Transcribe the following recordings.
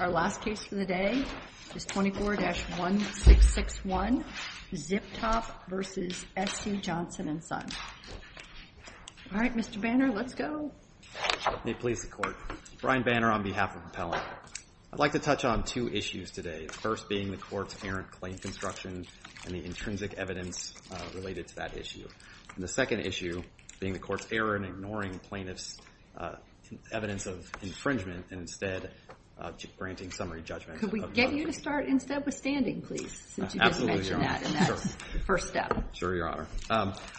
Our last case for the day is 24-1661, Zip Top v. SC Johnson & Son. All right, Mr. Banner, let's go. May it please the Court. Brian Banner on behalf of Appellant. I'd like to touch on two issues today, the first being the Court's errant claim construction and the intrinsic evidence related to that issue. And the second issue being the Court's error in ignoring plaintiff's evidence of infringement and instead granting summary judgment. Could we get you to start instead with standing, please? Absolutely, Your Honor. Since you just mentioned that, and that's the first step. Sure, Your Honor.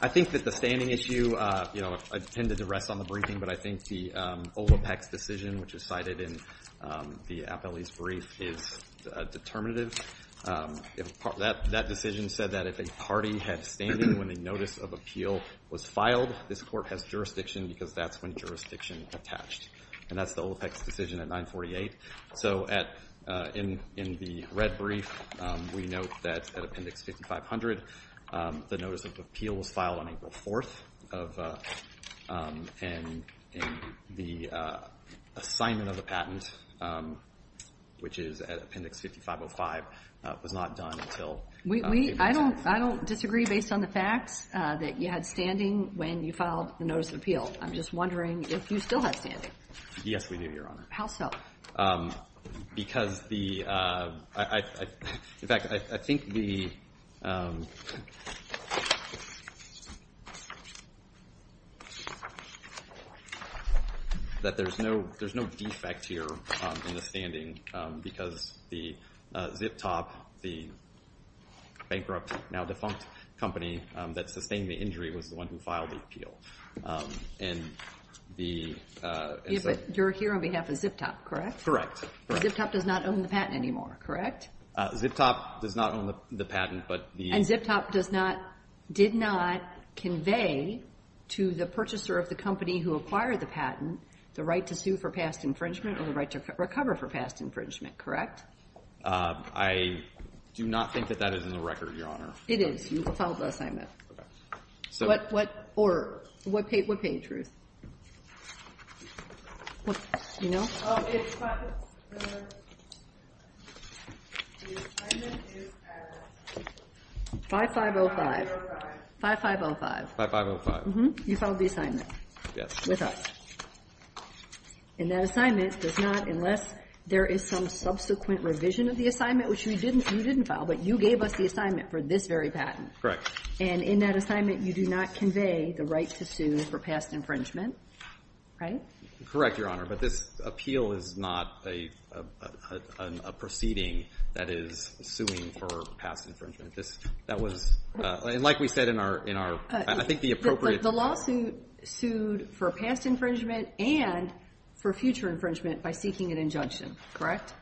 I think that the standing issue, you know, I tend to duress on the briefing, but I think the Olopec's decision, which is cited in the appellee's brief, is determinative. That decision said that if a party had standing when the notice of appeal was filed, this Court has jurisdiction because that's when jurisdiction attached. And that's the Olopec's decision at 948. So in the red brief, we note that at Appendix 5500, the notice of appeal was filed on April 4th, and the assignment of the patent, which is at Appendix 5505, was not done until April 10th. I don't disagree based on the facts that you had standing when you filed the notice of appeal. I'm just wondering if you still had standing. Yes, we do, Your Honor. How so? Because the—in fact, I think the—that there's no defect here in the standing because the zip top, the bankrupt, now defunct company that sustained the injury was the one who filed the appeal. And the— Yes, but you're here on behalf of zip top, correct? Correct. The zip top does not own the patent anymore, correct? Zip top does not own the patent, but the— And zip top does not—did not convey to the purchaser of the company who acquired the patent the right to sue for past infringement or the right to recover for past infringement, correct? I do not think that that is in the record, Your Honor. It is. You filed the assignment. Correct. What—or what page, Ruth? You know? Oh, it's 5—the assignment is at— 5505. 5505. 5505. 5505. You filed the assignment. Yes. With us. And that assignment does not, unless there is some subsequent revision of the assignment, which you didn't file, but you gave us the assignment for this very patent. Correct. And in that assignment, you do not convey the right to sue for past infringement, right? Correct, Your Honor, but this appeal is not a proceeding that is suing for past infringement. That was—and like we said in our—I think the appropriate— The lawsuit sued for past infringement and for future infringement by seeking an injunction, correct? Correct.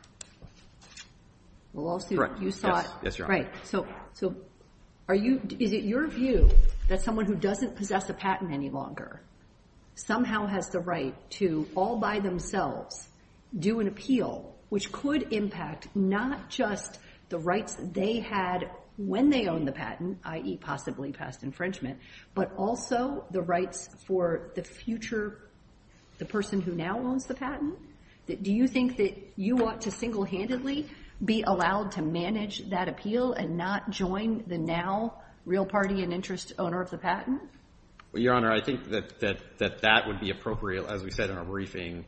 The lawsuit, you sought— Yes, Your Honor. Right. So are you—is it your view that someone who doesn't possess a patent any longer somehow has the right to all by themselves do an appeal, which could impact not just the rights they had when they owned the patent, i.e. possibly past infringement, but also the rights for the future—the person who now owns the patent? Do you think that you ought to single-handedly be allowed to manage that appeal and not join the now real party and interest owner of the patent? Well, Your Honor, I think that that would be appropriate, as we said in our briefing,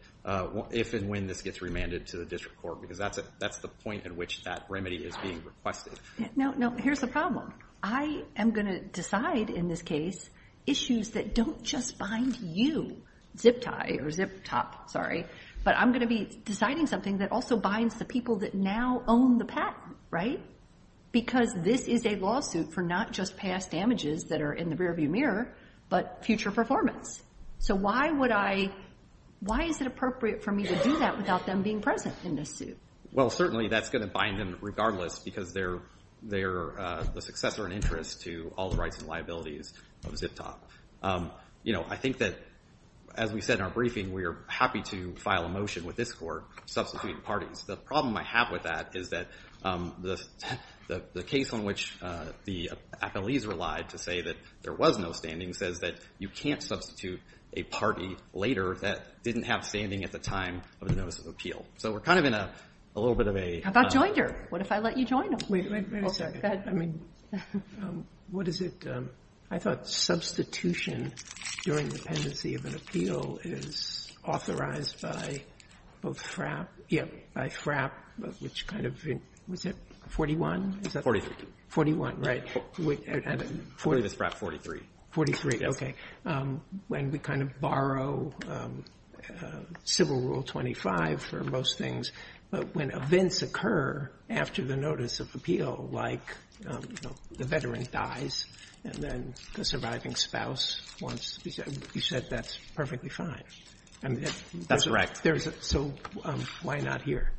if and when this gets remanded to the district court, because that's the point at which that remedy is being requested. Now, here's the problem. I am going to decide in this case issues that don't just bind you, zip tie or zip top, sorry, but I'm going to be deciding something that also binds the people that now own the patent, right? Because this is a lawsuit for not just past damages that are in the rearview mirror, but future performance. So why would I—why is it appropriate for me to do that without them being present in this suit? Well, certainly that's going to bind them regardless because they're the successor and interest to all the rights and liabilities of zip top. You know, I think that, as we said in our briefing, we are happy to file a motion with this court substituting parties. The problem I have with that is that the case on which the appellees relied to say that there was no standing says that you can't substitute a party later that didn't have standing at the time of the notice of appeal. So we're kind of in a little bit of a— How about Joinder? What if I let you join him? Wait a second. Go ahead. I mean, what is it—I thought substitution during the pendency of an appeal is authorized by both FRAP— Yeah. —by FRAP, which kind of—was it 41? 43. 41, right. I believe it's FRAP 43. 43, okay. Yes. When we kind of borrow Civil Rule 25 for most things, but when events occur after the notice of appeal, like the veteran dies and then the surviving spouse wants to be—you said that's perfectly fine. That's correct. So why not here?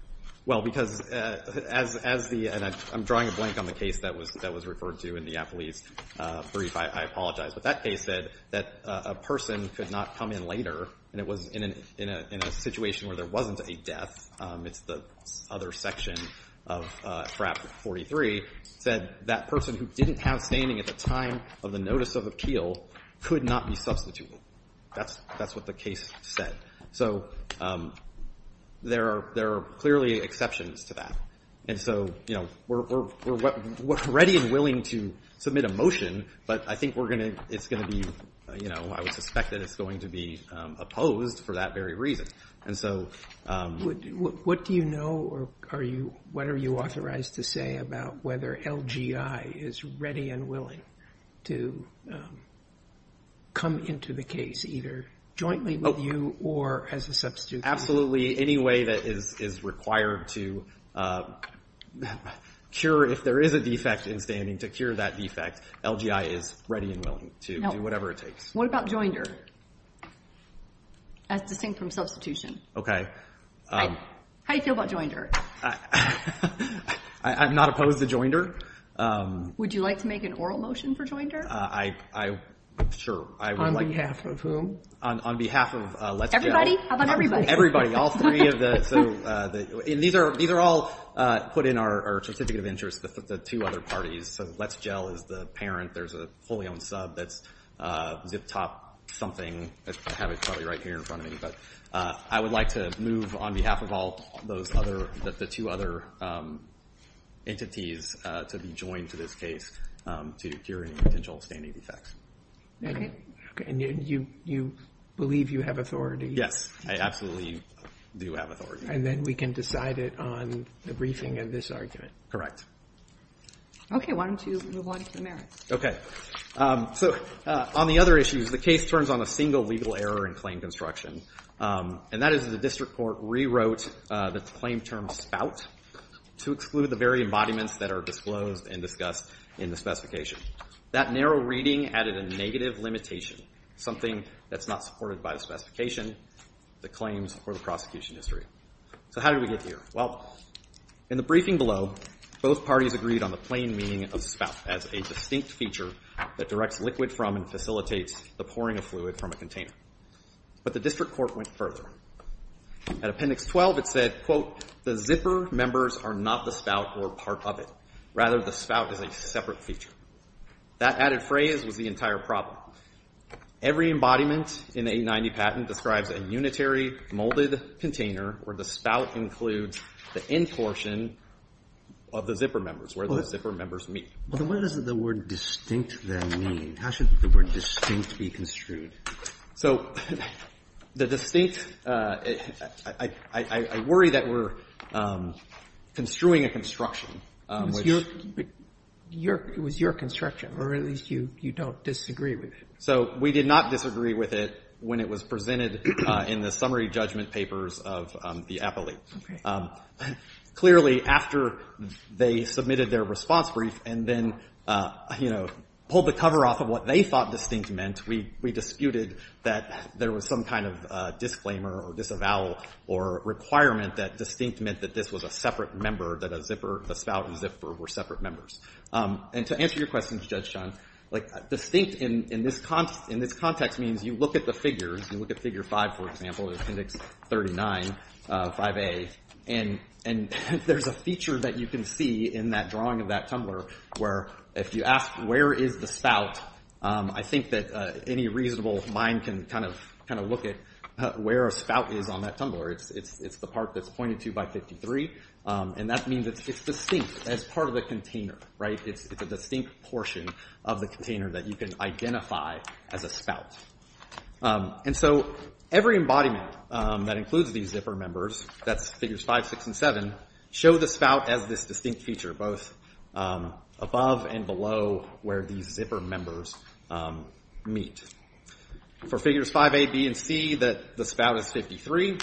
Well, because as the—and I'm drawing a blank on the case that was referred to in the appellee's brief. I apologize. But that case said that a person could not come in later, and it was in a situation where there wasn't a death. It's the other section of FRAP 43 said that person who didn't have standing at the time of the notice of appeal could not be substituted. That's what the case said. So there are clearly exceptions to that. And so, you know, we're ready and willing to submit a motion, but I think we're going to—it's going to be— you know, I would suspect that it's going to be opposed for that very reason. And so— What do you know or are you—what are you authorized to say about whether LGI is ready and willing to come into the case, either jointly with you or as a substitute? Absolutely any way that is required to cure—if there is a defect in standing to cure that defect, LGI is ready and willing to do whatever it takes. What about joinder as distinct from substitution? Okay. How do you feel about joinder? I'm not opposed to joinder. Would you like to make an oral motion for joinder? I—sure. On behalf of whom? On behalf of— Everybody? How about everybody? All three of the—so these are all put in our certificate of interest, the two other parties. So Let's Gel is the parent. There's a fully-owned sub that's zip-top something. I have it probably right here in front of me. But I would like to move on behalf of all those other—the two other entities to be joined to this case to cure any potential standing defects. Okay. And you believe you have authority? Yes, I absolutely do have authority. And then we can decide it on the briefing of this argument. Correct. Okay. Why don't you move on to the merits? Okay. So on the other issues, the case turns on a single legal error in claim construction, and that is the district court rewrote the claim term spout to exclude the very embodiments that are disclosed and discussed in the specification. That narrow reading added a negative limitation, something that's not supported by the specification, the claims, or the prosecution history. So how did we get here? Well, in the briefing below, both parties agreed on the plain meaning of spout as a distinct feature that directs liquid from and facilitates the pouring of fluid from a container. But the district court went further. At Appendix 12, it said, quote, The zipper members are not the spout or part of it. Rather, the spout is a separate feature. That added phrase was the entire problem. Every embodiment in the 890 patent describes a unitary molded container where the spout includes the end portion of the zipper members, where the zipper members meet. What does the word distinct then mean? How should the word distinct be construed? So the distinct, I worry that we're construing a construction. It was your construction, or at least you don't disagree with it. So we did not disagree with it when it was presented in the summary judgment papers of the appellate. Clearly, after they submitted their response brief and then, you know, pulled the cover off of what they thought distinct meant, we disputed that there was some kind of disclaimer or disavowal or requirement that distinct meant that this was a separate member, that a zipper, a spout and zipper were separate members. And to answer your question, Judge Chun, like distinct in this context means you look at the figures, you look at Figure 5, for example, at Appendix 39, 5A, and there's a feature that you can see in that drawing of that tumbler where if you ask where is the spout, I think that any reasonable mind can kind of look at where a spout is on that tumbler. It's the part that's pointed to by 53, and that means it's distinct as part of the container, right? It's a distinct portion of the container that you can identify as a spout. And so every embodiment that includes these zipper members, that's Figures 5, 6 and 7, show the spout as this distinct feature, both above and below where these zipper members meet. For Figures 5A, B and C, the spout is 53.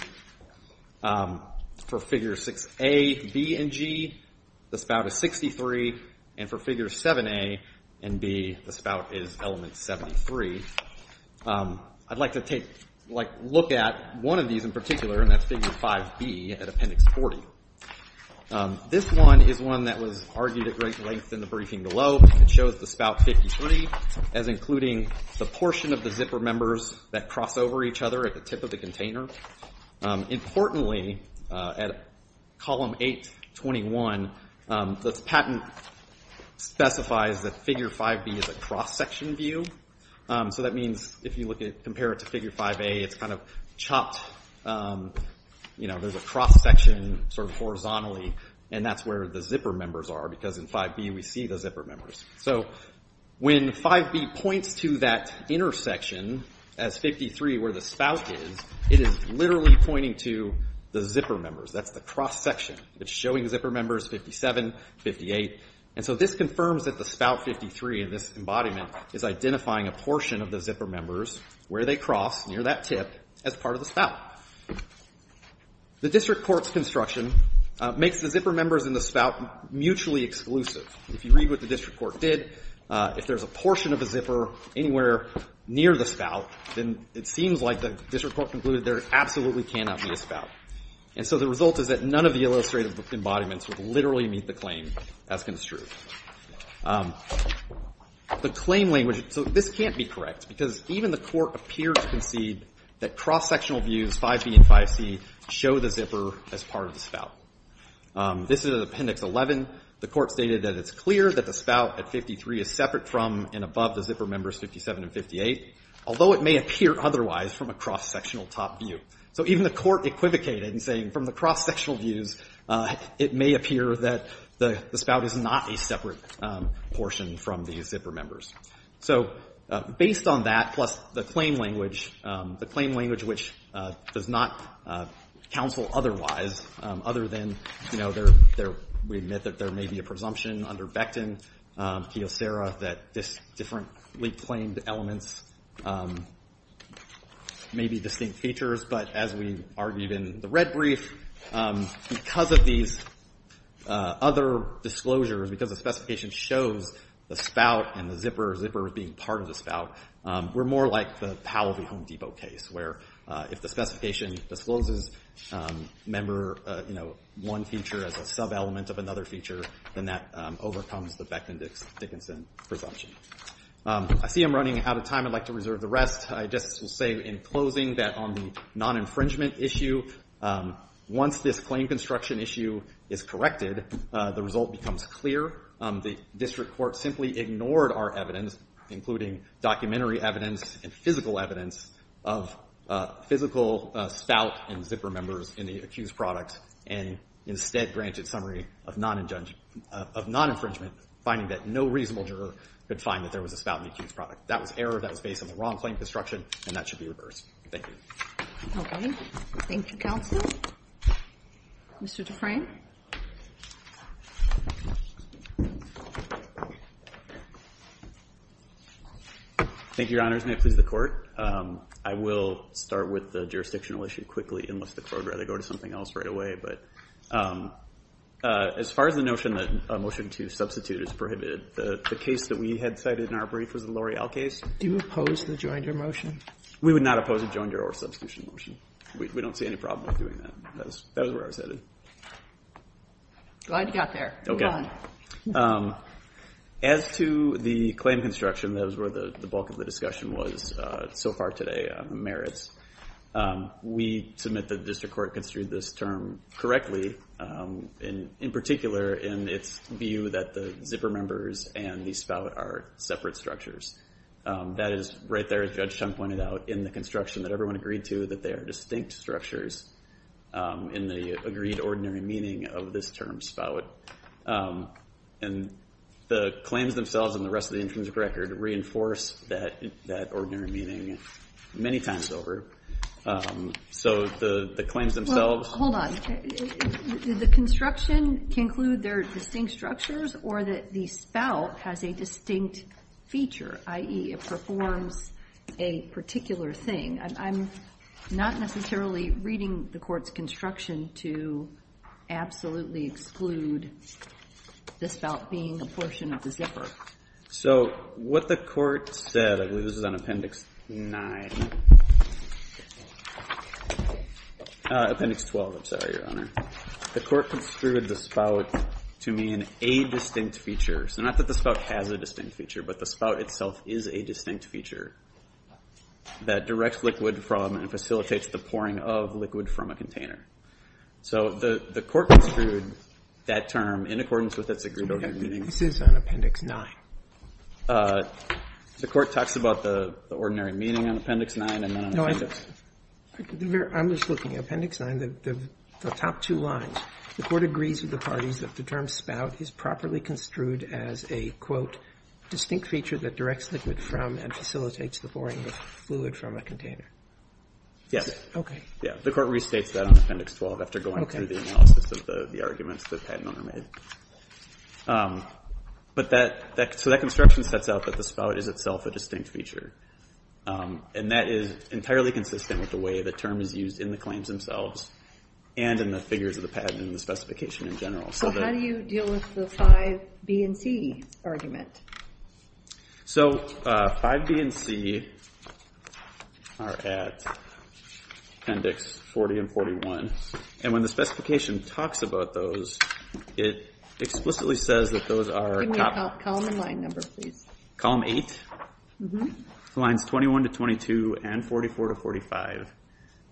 For Figures 6A, B and G, the spout is 63. And for Figures 7A and B, the spout is element 73. I'd like to take a look at one of these in particular, and that's Figure 5B at Appendix 40. This one is one that was argued at great length in the briefing below. It shows the spout 53 as including the portion of the zipper members that cross over each other at the tip of the container. Importantly, at Column 821, the patent specifies that Figure 5B is a cross-section view. So that means if you compare it to Figure 5A, it's kind of chopped. There's a cross-section sort of horizontally, and that's where the zipper members are, because in 5B we see the zipper members. So when 5B points to that intersection as 53 where the spout is, it is literally pointing to the zipper members. That's the cross-section. It's showing zipper members 57, 58. And so this confirms that the spout 53 in this embodiment is identifying a portion of the zipper members where they cross near that tip as part of the spout. The district court's construction makes the zipper members in the spout mutually exclusive. If you read what the district court did, if there's a portion of a zipper anywhere near the spout, then it seems like the district court concluded there absolutely cannot be a spout. And so the result is that none of the illustrative embodiments would literally meet the claim as construed. The claim language, so this can't be correct, because even the court appeared to concede that cross-sectional views, 5B and 5C, show the zipper as part of the spout. This is at Appendix 11. The court stated that it's clear that the spout at 53 is separate from and above the zipper members 57 and 58, although it may appear otherwise from a cross-sectional top view. So even the court equivocated in saying from the cross-sectional views, it may appear that the spout is not a separate portion from the zipper members. So based on that, plus the claim language, the claim language which does not counsel otherwise, other than, you know, we admit that there may be a presumption under Becton, Kiyosera, that this differently claimed elements may be distinct features. But as we argued in the red brief, because of these other disclosures, because the specification shows the spout and the zipper as being part of the spout, we're more like the Powell v. Home Depot case where if the specification discloses member, you know, one feature as a sub-element of another feature, then that overcomes the Becton-Dickinson presumption. I see I'm running out of time. I'd like to reserve the rest. I just will say in closing that on the non-infringement issue, once this claim construction issue is corrected, the result becomes clear. The district court simply ignored our evidence, including documentary evidence and physical evidence, of physical spout and zipper members in the accused product and instead granted summary of non-infringement, finding that no reasonable juror could find that there was a spout in the accused product. That was error. That was based on the wrong claim construction, and that should be reversed. Thank you. Okay. Thank you, counsel. Mr. Dufresne. Thank you, Your Honors. Mr. Dufresne, please, the Court. I will start with the jurisdictional issue quickly, unless the Court would rather go to something else right away, but as far as the notion that a motion to substitute is prohibited, the case that we had cited in our brief was the L'Oreal case. Do you oppose the joinder motion? We would not oppose a joinder or substitution motion. We don't see any problem with doing that. That is where I was headed. Glad you got there. Okay. Move on. As to the claim construction, that was where the bulk of the discussion was so far today on the merits, we submit that the district court construed this term correctly, in particular in its view that the zipper members and the spout are separate structures. That is right there, as Judge Chung pointed out, in the construction that everyone agreed to, that they are distinct structures in the agreed ordinary meaning of this term, spout. And the claims themselves and the rest of the intrinsic record reinforce that ordinary meaning many times over. So the claims themselves... Well, hold on. Did the construction conclude they're distinct structures or that the spout has a distinct feature, i.e. it performs a particular thing? I'm not necessarily reading the court's construction to absolutely exclude the spout being a portion of the zipper. So what the court said, I believe this is on Appendix 9, Appendix 12, I'm sorry, Your Honor. The court construed the spout to mean a distinct feature. So not that the spout has a distinct feature, but the spout itself is a distinct feature that directs liquid from and facilitates the pouring of liquid from a container. So the court construed that term in accordance with its agreed ordinary meaning. This is on Appendix 9. The court talks about the ordinary meaning on Appendix 9 and not on Appendix... No, I'm just looking. Appendix 9, the top two lines. The court agrees with the parties that the term spout is properly construed as a, quote, distinct feature that directs liquid from and facilitates the pouring of fluid from a container. Okay. The court restates that on Appendix 12 after going through the analysis of the arguments the patent owner made. So that construction sets out that the spout is itself a distinct feature. And that is entirely consistent with the way the term is used in the claims themselves and in the figures of the patent and the specification in general. So how do you deal with the 5B and C argument? So 5B and C are at Appendix 40 and 41. And when the specification talks about those, it explicitly says that those are... Give me a column and line number, please. Column 8? Mm-hmm. Lines 21 to 22 and 44 to 45.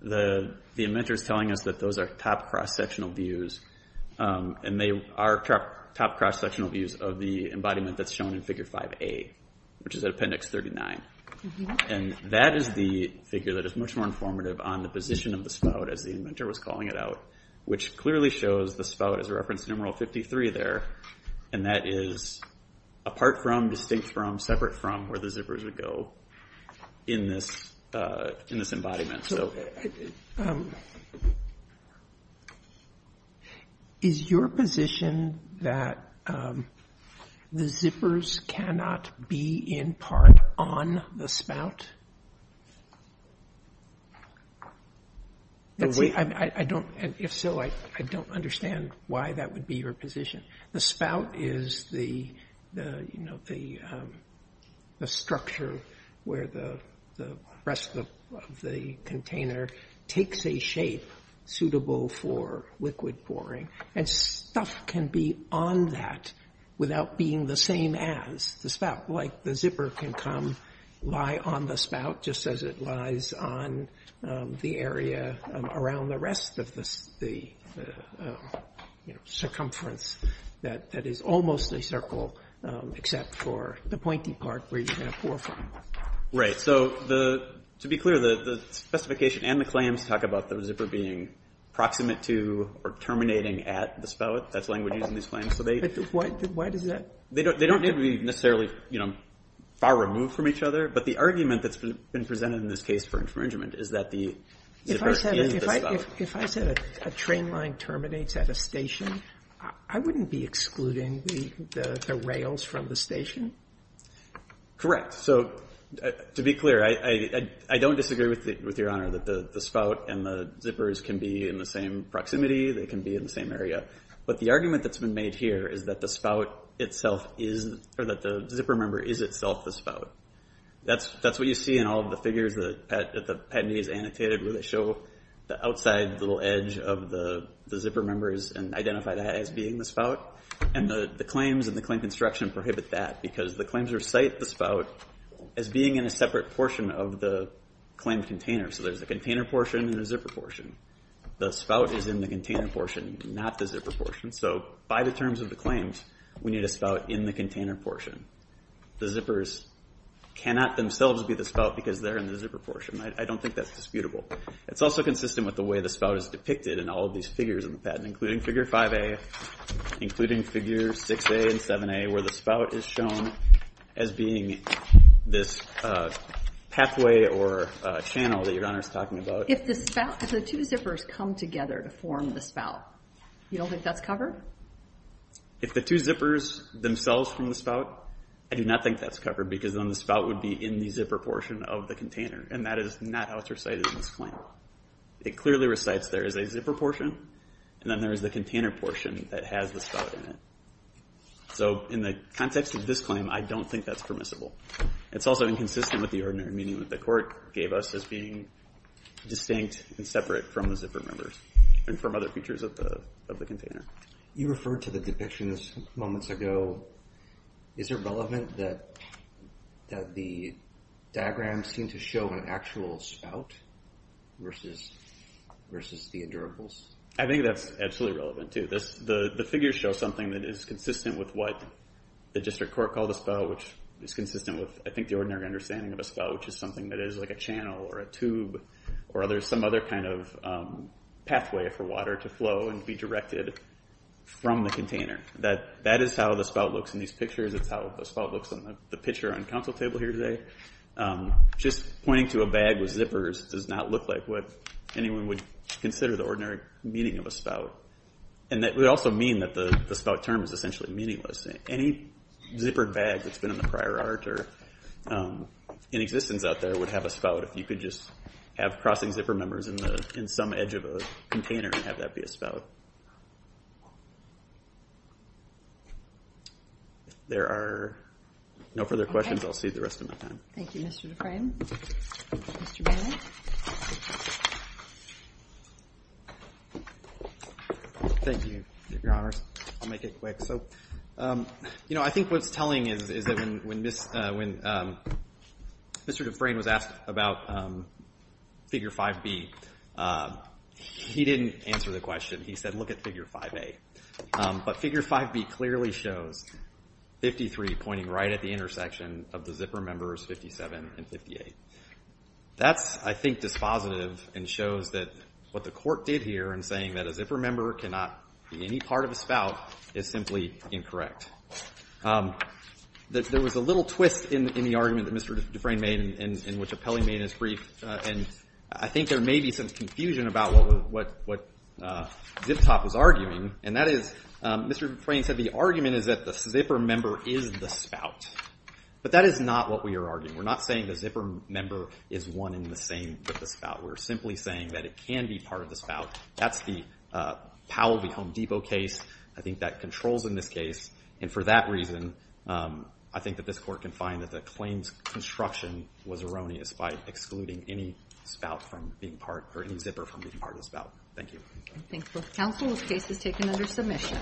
The inventor is telling us that those are top cross-sectional views. And they are top cross-sectional views of the embodiment that's shown in Figure 5A, which is at Appendix 39. And that is the figure that is much more informative on the position of the spout, as the inventor was calling it out, which clearly shows the spout as a reference numeral 53 there. And that is apart from, distinct from, separate from where the zippers would go in this embodiment. Is your position that the zippers cannot be in part on the spout? If so, I don't understand why that would be your position. The spout is the structure where the rest of the container takes a shape suitable for liquid pouring. And stuff can be on that without being the same as the spout. Like the zipper can come, lie on the spout, just as it lies on the area around the spout, which is the circumference that is almost a circle, except for the pointy part where you're going to pour from. So to be clear, the specification and the claims talk about the zipper being proximate to or terminating at the spout. That's language used in these claims. Why does that? They don't need to be necessarily far removed from each other. But the argument that's been presented in this case for infringement is that the zipper is the spout. If I said a train line terminates at a station, I wouldn't be excluding the rails from the station? Correct. So to be clear, I don't disagree with Your Honor that the spout and the zippers can be in the same proximity. They can be in the same area. But the argument that's been made here is that the spout itself is, or that the zipper member is itself the spout. That's what you see in all the figures that the Patentee has annotated where they show the outside little edge of the zipper members and identify that as being the spout. And the claims and the claim construction prohibit that because the claims recite the spout as being in a separate portion of the claimed container. So there's a container portion and a zipper portion. The spout is in the container portion, not the zipper portion. So by the terms of the claims, we need a spout in the container portion. The zippers cannot themselves be the spout because they're in the zipper portion. I don't think that's disputable. It's also consistent with the way the spout is depicted in all of these figures in the Patent, including Figure 5A, including Figure 6A and 7A, where the spout is shown as being this pathway or channel that Your Honor is talking about. If the spout, if the two zippers come together to form the spout, you don't think that's covered? If the two zippers themselves form the spout, I do not think that's covered because then the spout would be in the zipper portion of the container. And that is not how it's recited in this claim. It clearly recites there is a zipper portion and then there is the container portion that has the spout in it. So in the context of this claim, I don't think that's permissible. It's also inconsistent with the ordinary meaning that the Court gave us as being distinct and separate from the zipper members and from other features of the container. You referred to the depiction moments ago. Is it relevant that the diagrams seem to show an actual spout versus the endurables? I think that's absolutely relevant, too. The figures show something that is consistent with what the District Court called a spout, which is consistent with, I think, the ordinary understanding of a spout, which is something that is like a channel or a tube or some other kind of pathway for water to flow and be directed from the container. That is how the spout looks in these pictures. It's how the spout looks in the picture on the Council table here today. Just pointing to a bag with zippers does not look like what anyone would consider the ordinary meaning of a spout. It would also mean that the spout term is essentially meaningless. Any zippered bag that's been in the prior art or in existence out there would have a spout if you could just have crossing zipper members in some edge of a container and have that be a spout. There are no further questions. I'll cede the rest of my time. Thank you, Mr. Dufresne. Mr. Bannon. Thank you, Your Honors. I'll make it quick. I think what's telling is that when Mr. Dufresne was asked about Figure 5B, he didn't answer the question. He said, look at Figure 5A. But Figure 5B clearly shows 53 pointing right at the intersection of the zipper members 57 and 58. That's, I think, dispositive and shows that what the Court did here in saying that a zipper member cannot be any part of a spout is simply incorrect. There was a little twist in the argument that Mr. Dufresne made in which Apelli made in his brief, and I think there may be some confusion about what Zip Top was arguing, and that is Mr. Dufresne said the argument is that the zipper member is the spout. But that is not what we are arguing. We're not saying the zipper member is one in the same with the spout. We're simply saying that it can be part of the spout. That's the Powell v. Home Depot case. I think that controls in this case, and for that reason, I think that this Court can find that the claims construction was erroneous by excluding any spout from being part or any zipper from being part of the spout. Thank you. Counsel, the case is taken under submission.